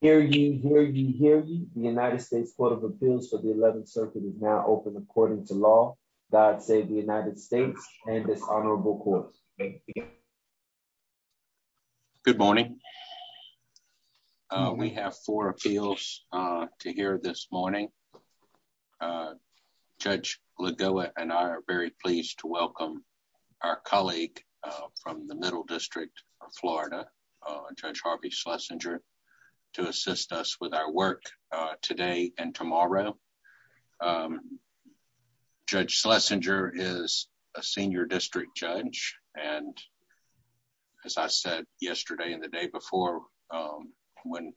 Hear you, hear you, hear you. The United States Court of Appeals for the 11th Circuit is now open according to law. God save the United States and this honorable court. Good morning. We have four appeals to hear this morning. Judge Lagoa and I are very pleased to welcome our colleague from the Middle District of Florida, Judge Harvey Schlesinger to assist us with our work today and tomorrow. Judge Schlesinger is a senior district judge and as I said yesterday and the day before, when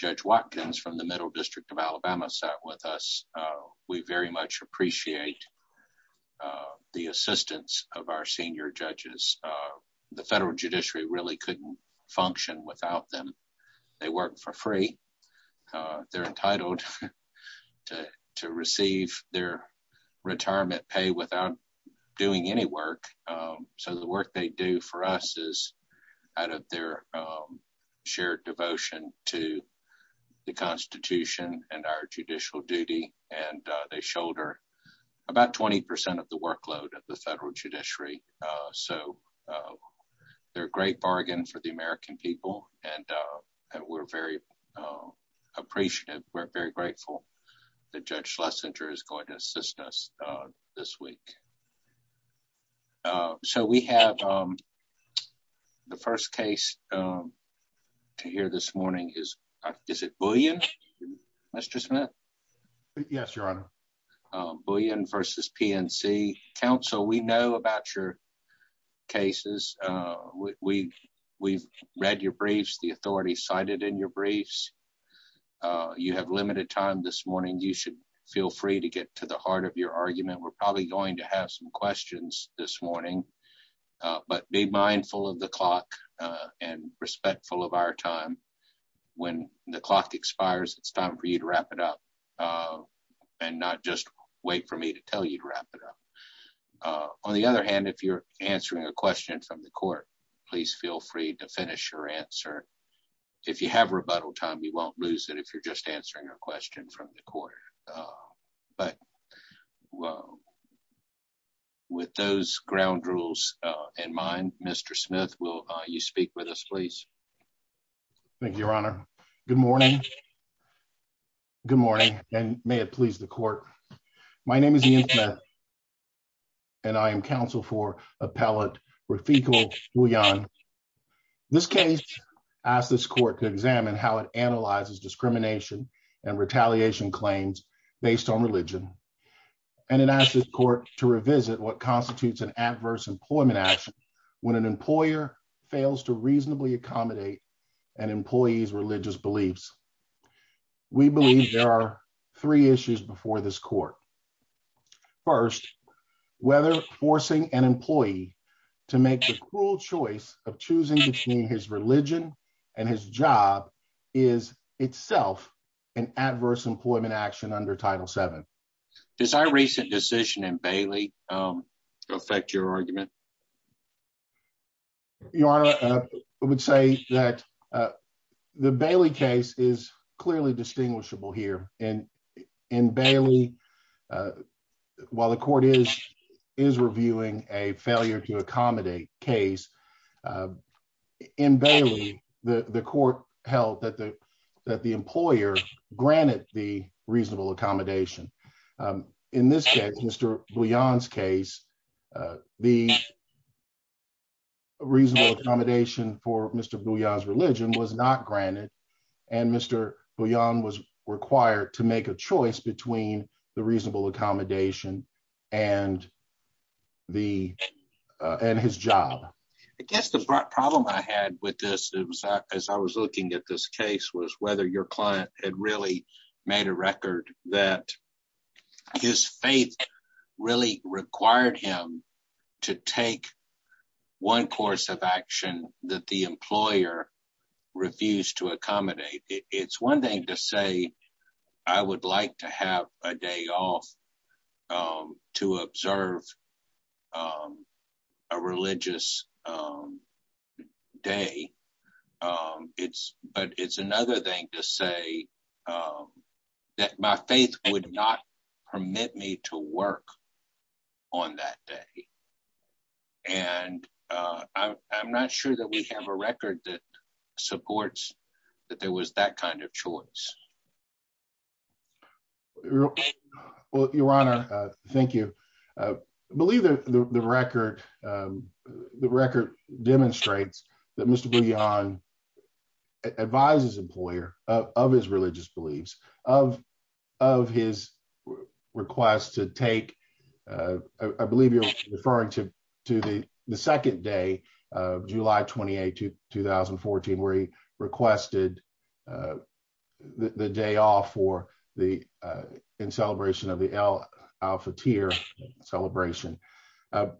Judge Watkins from the Middle District of Alabama sat with us, we very much appreciate the assistance of our senior judges. The federal judiciary really couldn't function without them. They work for free. They're entitled to receive their retirement pay without doing any work. So the work they do for us is out of their shared devotion to the Constitution and our judicial duty and they shoulder about 20% of the workload of the federal judiciary. So they're a great bargain for the American people and we're very appreciative. We're very grateful that Judge Schlesinger is going to assist us this week. So we have the first case to hear this morning. Is it Bullion, Mr. Smith? Yes, your honor. Bullion versus PNC. Counsel, we know about your cases. We've read your briefs. The authorities cited in your briefs. You have limited time this morning. You should feel free to get to the heart of your argument. We're probably going to have some questions this morning but be mindful of the clock and respectful of our time. When the clock expires, it's time for you to wrap it up and not just wait for me to tell you to wrap it up. On the other hand, if you're answering a question from the court, please feel free to finish your answer. If you have rebuttal time, you won't lose it if you're just answering a question from the court. But with those ground rules in mind, Mr. Smith, will you speak with us, please? Thank you, your honor. Good morning. Good morning and may it please the court. My name is Ian Smith and I am counsel for appellate Rafiqul Bullion. This case asks this court to examine how it analyzes discrimination and retaliation claims based on religion. And it asks this court to revisit what constitutes an adverse employment action when an employer fails to reasonably accommodate an employee's religious beliefs. We believe there are three issues before this court. First, whether forcing an employee to make the cruel choice of choosing between his religion and his job is itself an adverse employment action under Title VII. Does our recent decision in Bailey affect your argument? Your honor, I would say that the Bailey case is clearly distinguishable here. And in Bailey, while the court is reviewing a failure to accommodate case, in Bailey, the court held that the employer granted the reasonable accommodation. In this case, Mr. Bullion's case, the reasonable accommodation for Mr. Bullion's religion was not granted. And Mr. Bullion was required to make a choice between the reasonable accommodation and his job. I guess the problem I had with this, as I was looking at this case, was whether your client had really made a record that his faith really required him to take one course of action that the employer refused to accommodate. It's one thing to say, I would like to have a day off to observe a religious day. But it's another thing to say that my faith would not permit me to work on that day. And I'm not sure that we have a record that that there was that kind of choice. Well, your honor, thank you. I believe that the record demonstrates that Mr. Bullion advised his employer of his religious beliefs, of his request to take, I believe you're referring to the second day of July 28, 2014, where he requested the day off for the in celebration of the El Alphateer celebration. The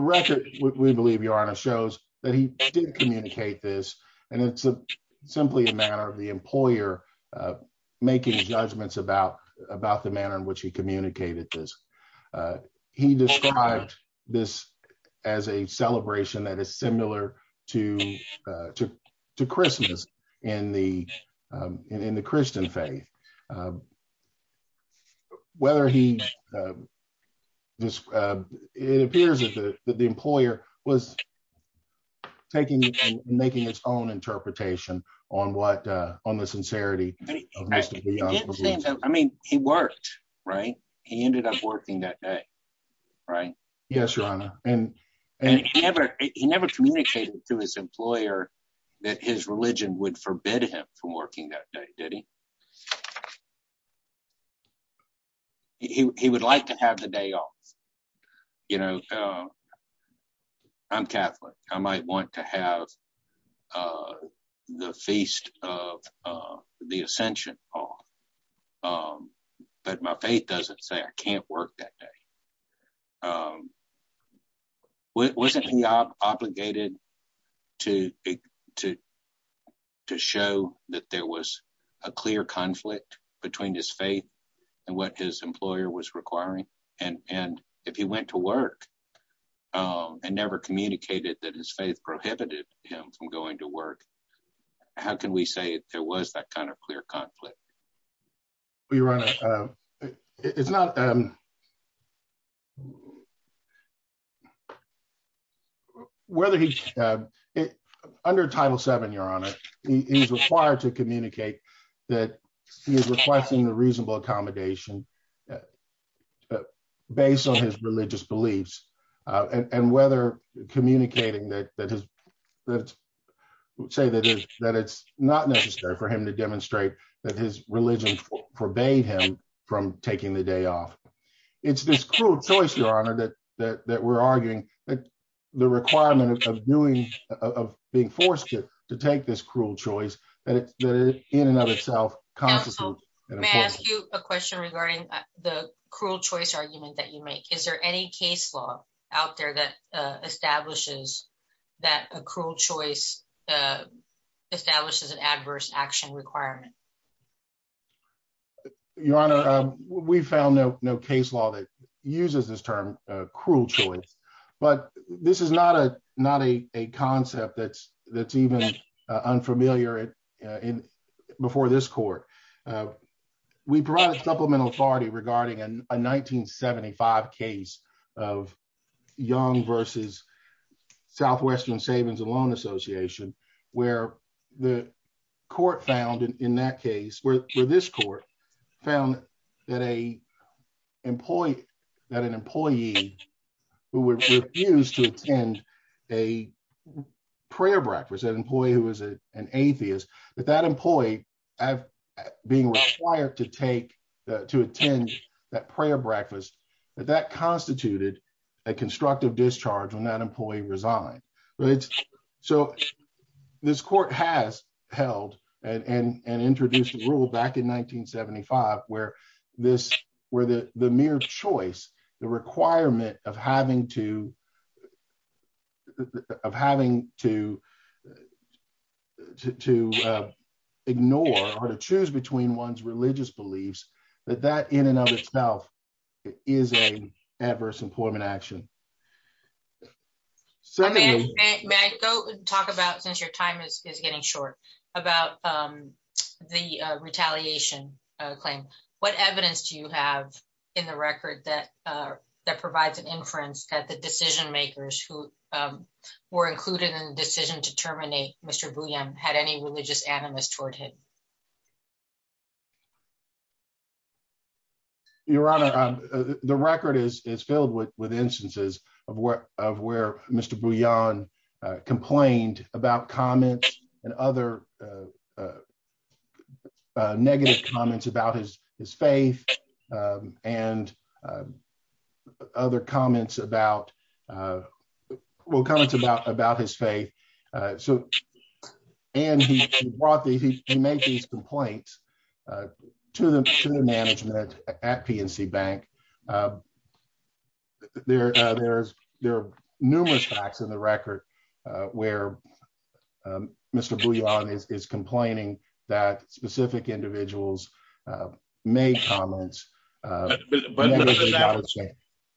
record, we believe your honor shows that he did communicate this. And it's simply a matter of the employer making judgments about the manner in which he described this as a celebration that is similar to Christmas in the Christian faith. It appears that the employer was making its own interpretation on the sincerity. I mean, he worked, right? He ended up working that day. Right? Yes, your honor. And he never communicated to his employer that his religion would forbid him from working that day, did he? He would like to have the day off. You know, I'm Catholic, I might want to have the Feast of the Ascension off. But my faith doesn't say I can't work that day. Wasn't he obligated to show that there was a clear conflict between his faith and what his employer was requiring? And if he went to work, and never communicated that his faith prohibited him from going to work? How can we say there was that kind of clear conflict? Your honor, it's not whether he's under Title Seven, your honor, he's required to communicate that he is requesting a reasonable accommodation, based on his religious beliefs, and whether communicating that say that is that it's not necessary for him to demonstrate that his religion forbade him from taking the day off. It's this cruel choice, your honor, that that we're arguing that the requirement of doing of being forced to take this cruel choice, that in and of itself, a question regarding the cruel choice argument that you make, is there any case law out there that establishes that a cruel choice establishes an adverse action requirement? Your honor, we found no case law that uses this term cruel choice. But this is not a not a concept that's that's even unfamiliar in before this court. We brought a supplemental authority regarding a 1975 case of Young versus Southwestern Savings Loan Association, where the court found in that case, where this court found that a employee, that an employee who would refuse to attend a prayer breakfast, an employee who was an atheist, that that employee being required to take to attend that prayer breakfast, that that constituted a constructive discharge when that employee resigned. So this court has held and introduced the rule back in 1975, where the mere choice, the requirement of having to ignore or to choose between one's religious beliefs, that that in and of itself, is a adverse employment action. May I go talk about since your time is getting short about the retaliation claim, what evidence do you have in the record that that provides an inference that the decision makers who were included in the decision to terminate Mr. Booyan had any religious animus toward him? Your Honor, the record is is filled with with instances of where of where Mr. Booyan complained about comments and other negative comments about his his faith and other comments about uh well comments about about his faith. So and he brought these he made these complaints to the to the management at PNC Bank. There are numerous facts in the record where Mr. Booyan is complaining that specific individuals made comments. But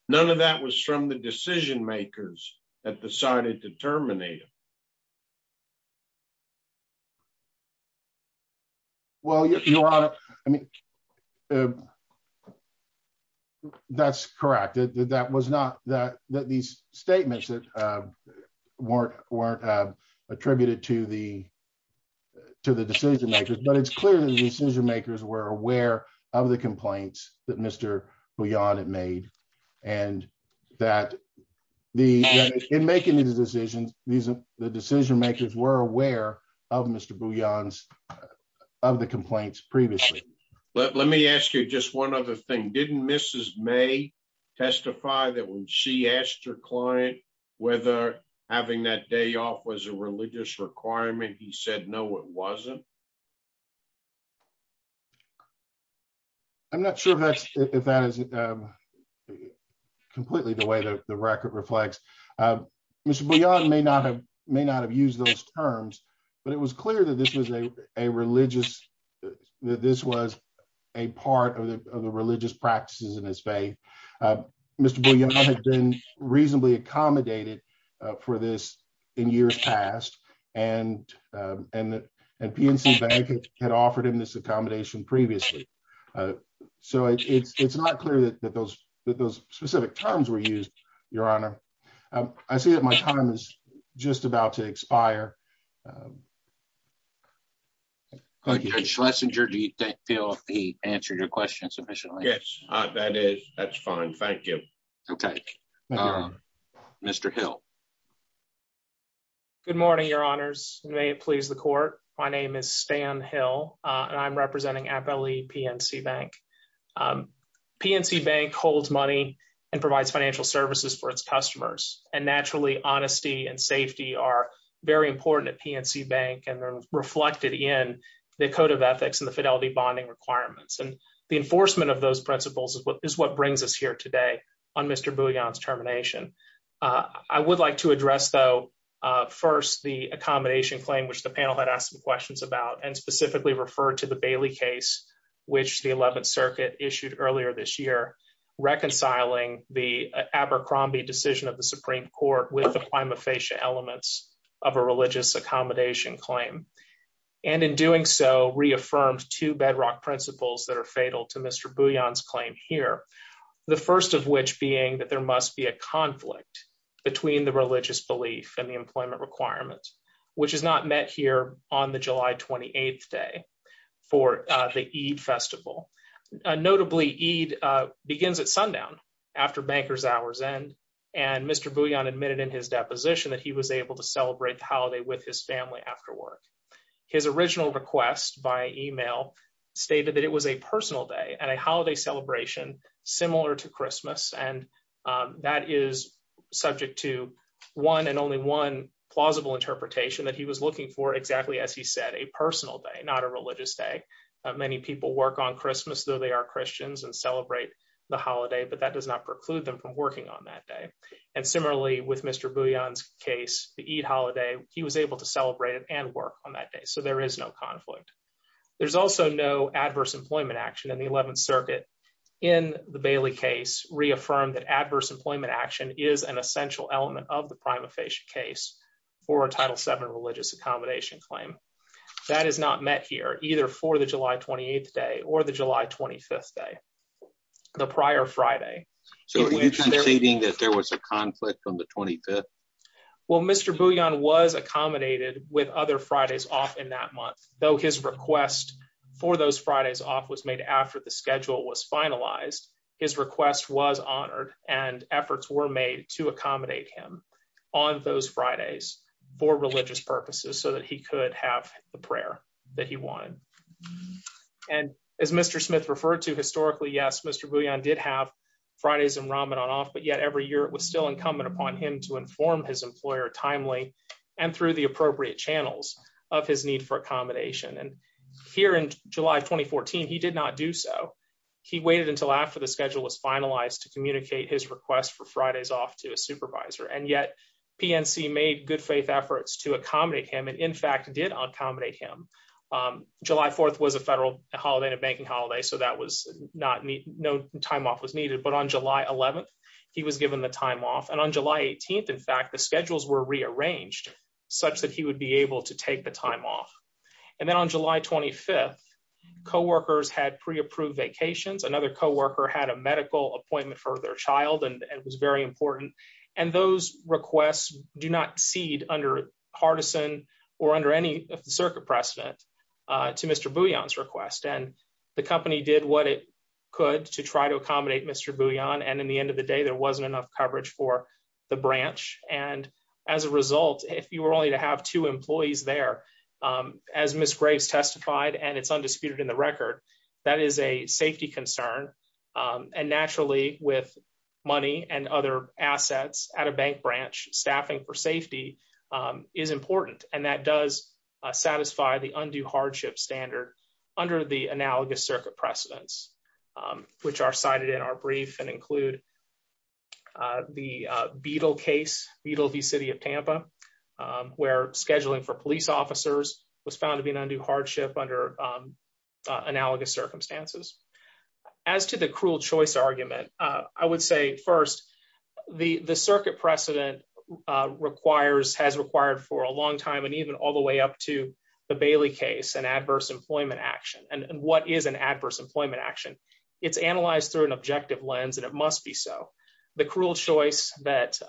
none of that was from the decision makers that decided to terminate him. Well, Your Honor, I mean that's correct that that was not that that these statements that weren't weren't attributed to the to the decision makers. But it's clear that the decision makers were aware of the complaints that Mr. Booyan had made. And that the in making these decisions, these the decision makers were aware of Mr. Booyan's of the complaints previously. Let me ask you just one other thing. Didn't Mrs. May testify that when she asked her client whether having that day off was a religious requirement, he said no, it wasn't? I'm not sure if that's if that is completely the way the record reflects. Mr. Booyan may not have may not have used those terms. But it was clear that this was a religious that this was a part of the religious practices in Miss Bay. Mr. Booyan had been reasonably accommodated for this in years past. And, and, and PNC Bank had offered him this accommodation previously. So it's not clear that those that those specific terms were used, Your Honor. I see that my time is just about to expire. Judge Schlesinger, do you feel he answered your question sufficiently? That is, that's fine. Thank you. Okay. Mr. Hill. Good morning, Your Honors. May it please the court. My name is Stan Hill. And I'm representing Appellee PNC Bank. PNC Bank holds money and provides financial services for its customers. And naturally, honesty and safety are very important at PNC Bank and reflected in the ethics and the fidelity bonding requirements. And the enforcement of those principles is what is what brings us here today on Mr. Booyan's termination. I would like to address though, first, the accommodation claim, which the panel had asked some questions about and specifically referred to the Bailey case, which the 11th Circuit issued earlier this year, reconciling the Abercrombie decision of the Supreme Court with the prima facie elements of a religious accommodation claim. And in doing so, reaffirmed two bedrock principles that are fatal to Mr. Booyan's claim here. The first of which being that there must be a conflict between the religious belief and the employment requirements, which is not met here on the July 28th day for the Eid festival. Notably, Eid begins at sundown after bankers hours end. And Mr. Booyan admitted in his deposition that he was able to celebrate the holiday with his family after work. His original request by email stated that it was a personal day and a holiday celebration similar to Christmas. And that is subject to one and only one plausible interpretation that he was looking for exactly as he said, a personal day, not a religious day. Many people work on Christmas, though they are Christians and celebrate the holiday, but that does not preclude them from working on that day. And similarly with Mr. Booyan's case, the Eid holiday, he was able to celebrate it and work on that day. So there is no conflict. There's also no adverse employment action in the 11th circuit in the Bailey case reaffirmed that adverse employment action is an essential element of the prima facie case for a title seven religious accommodation claim. That is not met here either for the July 28th day or the July 25th day, the prior Friday. So are you conceding that there was a conflict on the 25th? Well, Mr. Booyan was accommodated with other Fridays off in that month, though his request for those Fridays off was made after the schedule was finalized. His request was honored and efforts were made to accommodate him on those Fridays for religious purposes so that he could have the prayer that he wanted. And as Mr. Smith referred to historically, yes, Mr. Booyan did have Fridays and Ramadan off, but yet every year it was still incumbent upon him to inform his employer timely and through the appropriate channels of his need for accommodation. And here in July 2014, he did not do so. He waited until after the schedule was finalized to communicate his request for Fridays off to a supervisor, and yet PNC made good faith efforts to accommodate him and in fact did accommodate him. July 4th was a federal holiday, a banking holiday, so that was not, no time off was needed. But on July 11th, he was given the time off. And on July 18th, in fact, the schedules were rearranged such that he would be able to take the time off. And then on July 25th, co-workers had pre-approved vacations. Another co-worker had a medical appointment for their child and was very important. And those requests do not cede under Hardison or under any of the circuit precedent to Mr. Booyan's request. And the company did what it could to try to accommodate Mr. Booyan. And in the end of the day, there wasn't enough coverage for the branch. And as a result, if you were only to have two employees there, as Ms. Graves testified, and it's undisputed in the record, that is a safety concern. And naturally, with money and other assets at a bank branch, staffing for safety is important. And that does satisfy the undue hardship standard under the analogous circuit precedents, which are cited in our brief and include the Beedle case, Beedle v. City of Tampa, where scheduling for police officers was found to be an undue hardship under analogous circumstances. As to the cruel choice argument, I would say first, the circuit precedent has required for a long time, and even all the way up to the Bailey case, an adverse employment action. And what is an adverse employment action? It's analyzed through an objective lens, and it must be so. The cruel choice that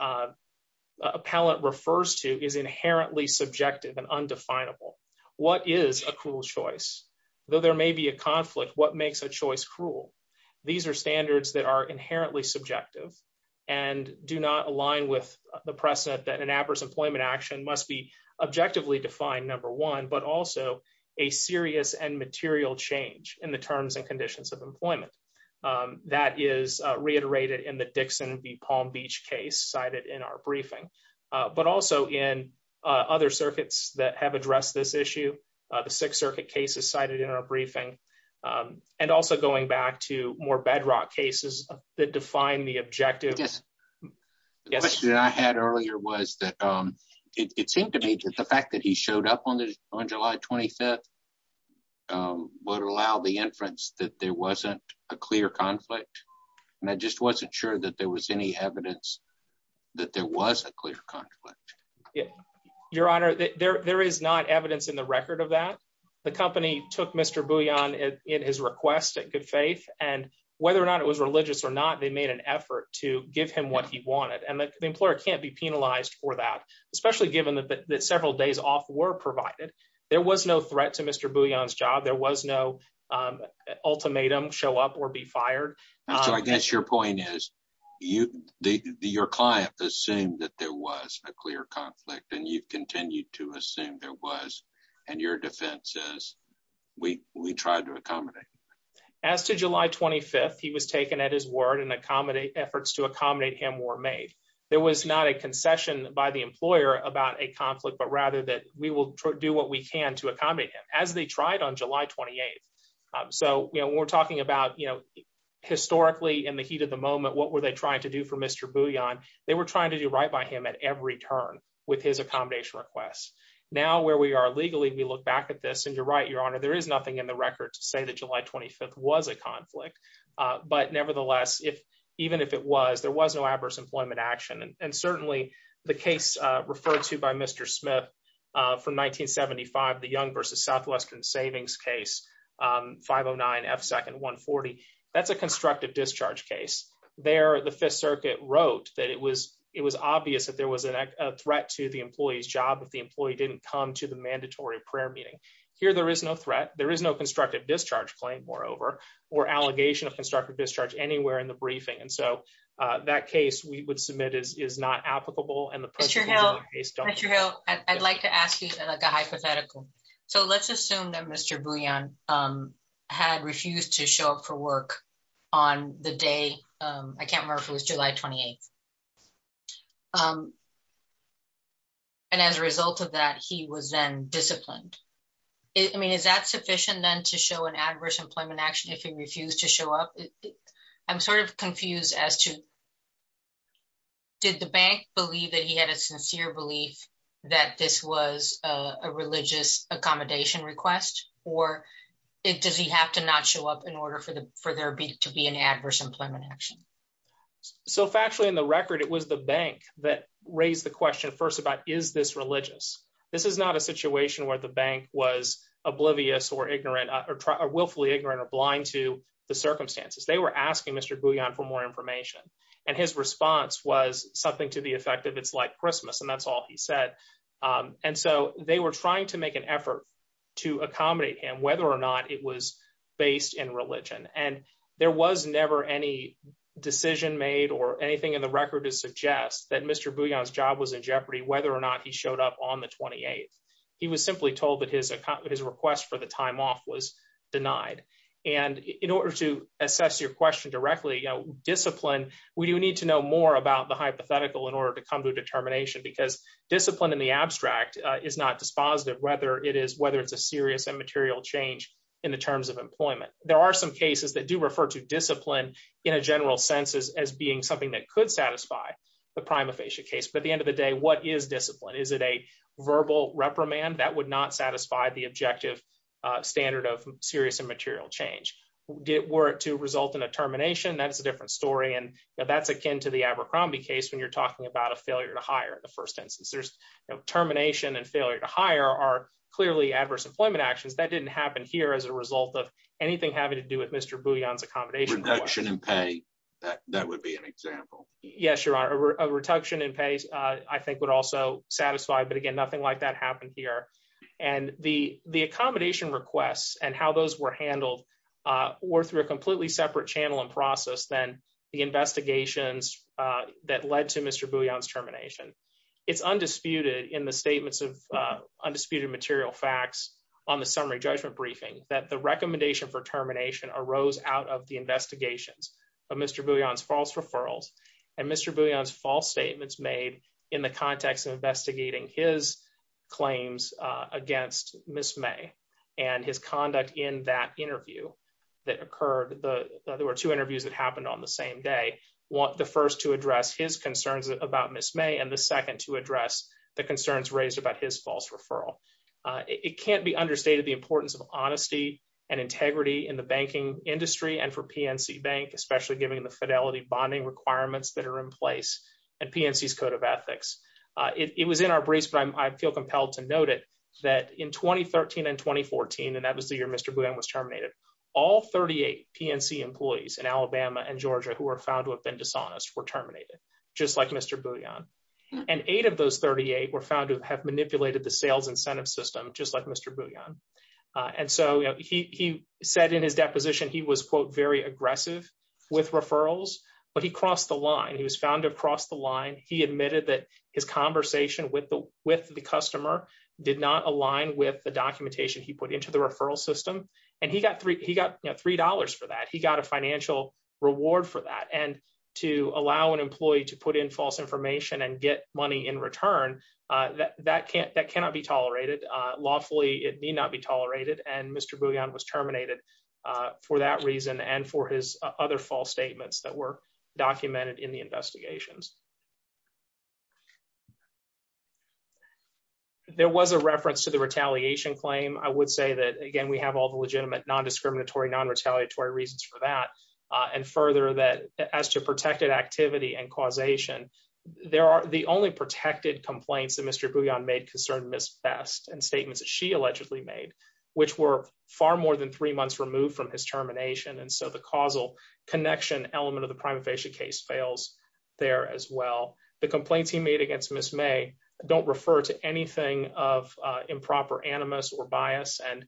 inherently subjective and undefinable. What is a cruel choice? Though there may be a conflict, what makes a choice cruel? These are standards that are inherently subjective and do not align with the precedent that an adverse employment action must be objectively defined, number one, but also a serious and material change in the terms and conditions of employment. That is other circuits that have addressed this issue. The Sixth Circuit case is cited in our briefing, and also going back to more bedrock cases that define the objective. The question I had earlier was that it seemed to me that the fact that he showed up on July 25th would allow the inference that there wasn't a clear conflict, and I just wasn't sure that there was any evidence that there was a clear conflict. Your Honor, there is not evidence in the record of that. The company took Mr. Bouillon in his request at good faith, and whether or not it was religious or not, they made an effort to give him what he wanted. And the employer can't be penalized for that, especially given that several days off were provided. There was no threat to Mr. Bouillon's job. There was no ultimatum show up or be fired. So I guess your point is that your client assumed that there was a clear conflict, and you've continued to assume there was, and your defense is, we tried to accommodate. As to July 25th, he was taken at his word, and efforts to accommodate him were made. There was not a concession by the employer about a conflict, but rather that we will do what we can to accommodate him, as they tried on July 28th. So, you know, we're talking about, you know, historically, in the heat of the moment, what were they trying to do for Mr. Bouillon? They were trying to do right by him at every turn with his accommodation requests. Now where we are legally, we look back at this, and you're right, your Honor, there is nothing in the record to say that July 25th was a conflict. But nevertheless, if even if it was, there was no adverse employment action, and certainly the case referred to by Mr. Smith from 1975, the Young v. Southwestern Savings Case, 509 F. Second, 140. That's a constructive discharge case. There, the Fifth Circuit wrote that it was obvious that there was a threat to the employee's job if the employee didn't come to the mandatory prayer meeting. Here, there is no threat. There is no constructive discharge claim, moreover, or allegation of constructive discharge anywhere in the briefing. And so that case we would submit is not applicable, and the person in the case- Mr. Hill, Mr. Hill, I'd like to ask you a hypothetical. So let's assume that Mr. Bouillon had refused to show up for work on the day, I can't remember if it was July 28th. And as a result of that, he was then disciplined. I mean, is that sufficient then to show an adverse employment action if he refused to show up? I'm sort of confused as to did the bank believe that he had a sincere belief that this was a religious accommodation request, or does he have to not show up in order for there to be an adverse employment action? So factually, in the record, it was the bank that raised the question first about is this religious? This is not a situation where the bank was oblivious or ignorant or willfully ignorant or blind to the circumstances. They were asking Mr. Bouillon for more information, and his response was something to the effect of it's like Christmas, and that's all he said. And so they were trying to make an effort to accommodate him, whether or not it was based in religion. And there was never any decision made or anything in the record to suggest that Mr. Bouillon's job was in jeopardy, whether or not he showed up on the 28th. He was simply told that his request for the time off was denied. And in order to assess your question directly, you know, discipline, we do need to know more about the hypothetical in order to come to a determination, because discipline in the abstract is not dispositive, whether it's a serious and material change in the terms of employment. There are some cases that do refer to discipline in a general sense as being something that could satisfy the prima facie case, but at the end of the day, what is discipline? Is it a verbal reprimand? That would not satisfy the objective standard of serious and material change. Were it to result in a termination, that's a different story. And that's akin to the Abercrombie case when you're talking about a failure to hire in the first instance. There's termination and failure to hire are clearly adverse employment actions that didn't happen here as a result of anything having to do with Mr. Bouillon's accommodation. Reduction in pay, that would be an example. Yes, Your Honor, a reduction in pay, I think would also satisfy, but again, nothing like that happened here. And the accommodation requests and how those were handled were through a completely separate channel and process than the investigations that led to Mr. Bouillon's termination. It's undisputed in the statements of undisputed material facts on the summary judgment briefing that the recommendation for termination arose out of the investigations of Mr. Bouillon's false claims against Ms. May and his conduct in that interview that occurred. There were two interviews that happened on the same day. The first to address his concerns about Ms. May and the second to address the concerns raised about his false referral. It can't be understated the importance of honesty and integrity in the banking industry and for PNC Bank, especially given the fidelity bonding requirements that are in place and PNC's code of ethics. It was in our briefs, but I feel compelled to note it, that in 2013 and 2014, and that was the year Mr. Bouillon was terminated, all 38 PNC employees in Alabama and Georgia who were found to have been dishonest were terminated, just like Mr. Bouillon. And eight of those 38 were found to have manipulated the sales incentive system, just like Mr. Bouillon. And so he said in his deposition, he was, quote, very aggressive with referrals, but he crossed the line. He was found to have crossed the line. He admitted that his conversation with the customer did not align with the documentation he put into the referral system. And he got $3 for that. He got a financial reward for that. And to allow an employee to put in false information and get money in return, that cannot be tolerated. Lawfully, it need not be tolerated. And Mr. Bouillon was terminated for that reason and for his other false statements that were documented in the investigations. There was a reference to the retaliation claim. I would say that, again, we have all the legitimate non-discriminatory, non-retaliatory reasons for that. And further, that as to protected activity and causation, the only protected complaints that Mr. Bouillon made concerned Ms. Best and statements that she allegedly made, which were far more than three months removed from his termination. And so the causal connection element of the prima facie case fails there as well. The Ms. May don't refer to anything of improper animus or bias. And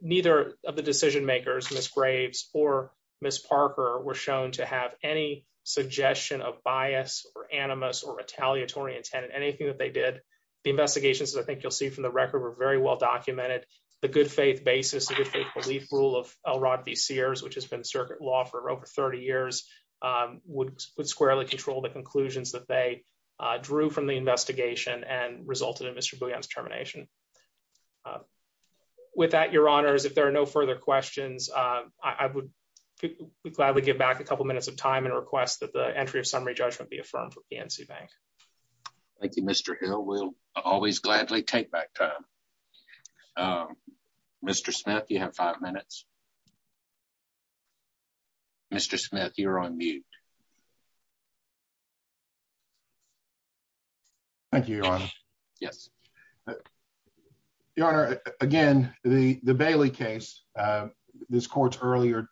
neither of the decision makers, Ms. Graves or Ms. Parker, were shown to have any suggestion of bias or animus or retaliatory intent in anything that they did. The investigations, as I think you'll see from the record, were very well documented. The good faith basis, the good faith belief rule of Elrod v. Sears, which has been circuit law for over 30 years, would squarely control the conclusions that they drew from the investigation and resulted in Mr. Bouillon's termination. With that, your honors, if there are no further questions, I would gladly give back a couple minutes of time and request that the entry of summary judgment be affirmed for PNC Bank. Thank you, Mr. Hill. We'll always gladly take back time. Mr. Smith, you have five minutes. Mr. Smith, you're on mute. Thank you, your honor. Yes. Your honor, again, the Bailey case, this court's earlier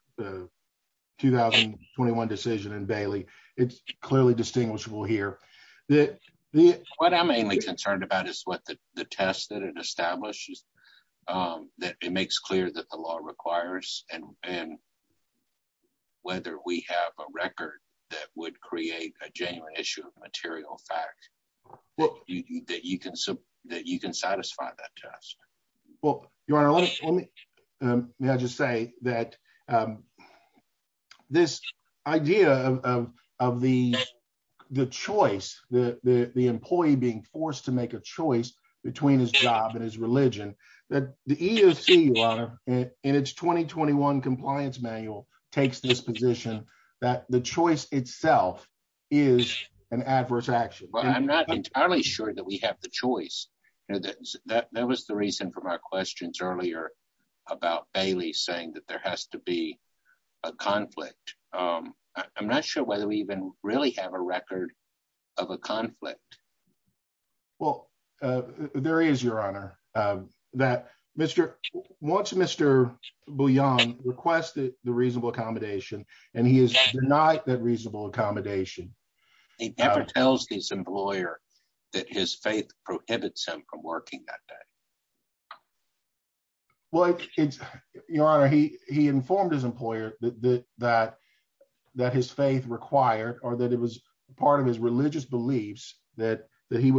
2021 decision in Bailey, it's clearly distinguishable here. What I'm mainly concerned about is what the test that it establishes, that it makes clear that the law requires and whether we have a record that would create a issue of material fact that you can satisfy that test. Well, your honor, may I just say that this idea of the choice, the employee being forced to make a choice between his job and his religion, that the EOC, your honor, in its 2021 compliance manual takes this position that the choice itself is an adverse action. Well, I'm not entirely sure that we have the choice. That was the reason from our questions earlier about Bailey saying that there has to be a conflict. I'm not sure whether we even really have a record of a conflict. Well, there is, your honor, that Mr. once Mr. Boyan requested the reasonable accommodation and he has denied that reasonable accommodation. He never tells his employer that his faith prohibits him from working that day. Well, your honor, he informed his employer that his faith required or that it was part of his religious beliefs that he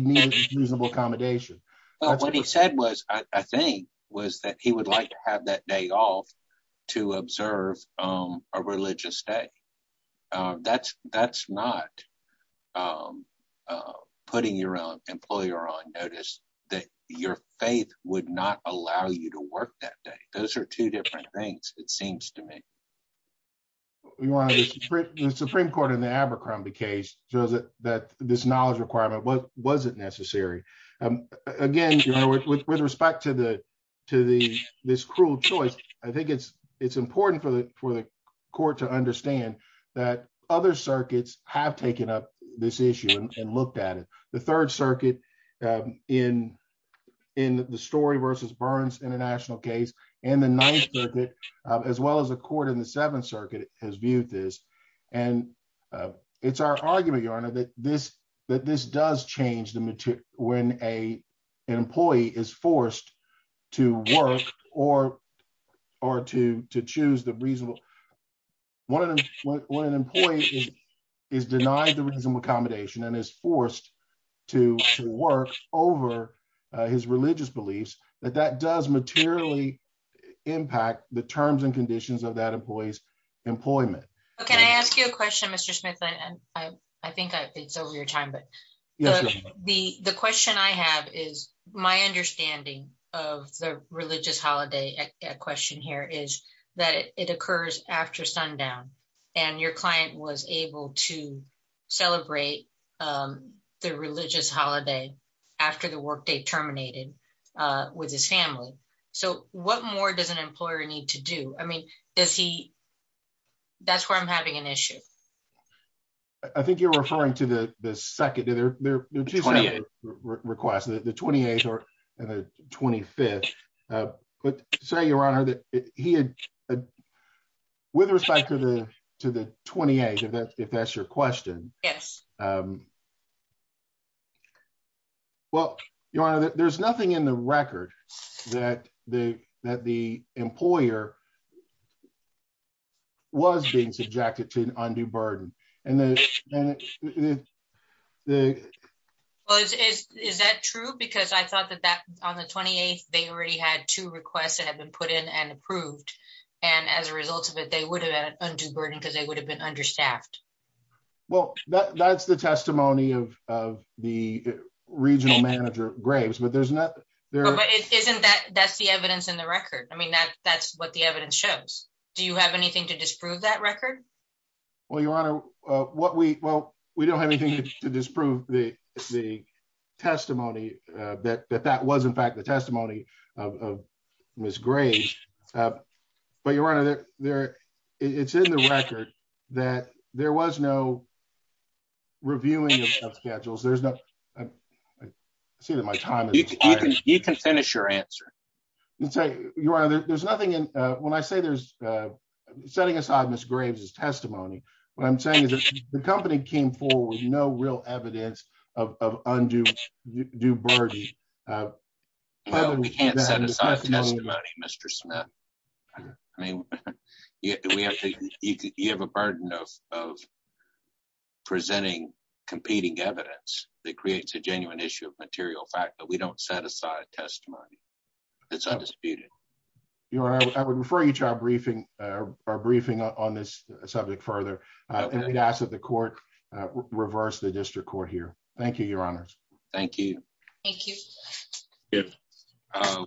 needed reasonable accommodation. What he said was, I think, was that he would like to have that day off to observe a religious day. That's not putting your employer on notice that your faith would not allow you to work that day. Those are two different things, it seems to me. Your honor, the Supreme Court in the Abercrombie case shows that this knowledge requirement wasn't necessary. Again, with respect to this cruel choice, I think it's important for the court to understand that other circuits have taken up this issue and looked at it. The Third Circuit in the Story versus Burns International case and the Ninth Circuit, as well as the court in the Seventh Circuit, has viewed this. It's our argument, your honor, that this does change when an employee is forced to work or to choose the reasonable. When an employee is denied the reasonable accommodation and is forced to work over his religious beliefs, that does materially impact the terms and employment. Can I ask you a question, Mr. Smith? I think it's over your time, but the question I have is, my understanding of the religious holiday question here is that it occurs after sundown and your client was able to celebrate the religious holiday after the workday terminated with his family. What more does an employer need to do? That's where I'm having an issue. I think you're referring to the second request, the 28th and the 25th. Say, your honor, that he had, with respect to the 28th, if that's your to an undue burden. Is that true? I thought that on the 28th, they already had two requests that had been put in and approved. As a result of it, they would have had an undue burden because they would have been understaffed. That's the testimony of the regional manager, Graves. That's the evidence in the record. That's what the evidence shows. Do you have anything to disprove that record? We don't have anything to disprove the testimony that that was, in fact, the testimony of Ms. Graves. Your honor, it's in the record that there was no reviewing of schedules. I see that my time is expired. You can finish your answer. Let's say, your honor, there's nothing in, when I say there's, setting aside Ms. Graves' testimony, what I'm saying is that the company came forward with no real evidence of undue burden. We can't set aside testimony, Mr. Smith. I mean, you have a burden of presenting competing evidence that creates a genuine issue of material fact, but we don't set aside testimony. It's undisputed. Your honor, I would refer you to our briefing on this subject further, and we'd ask that the court reverse the district court here. Thank you, your honors. Thank you. Thank you.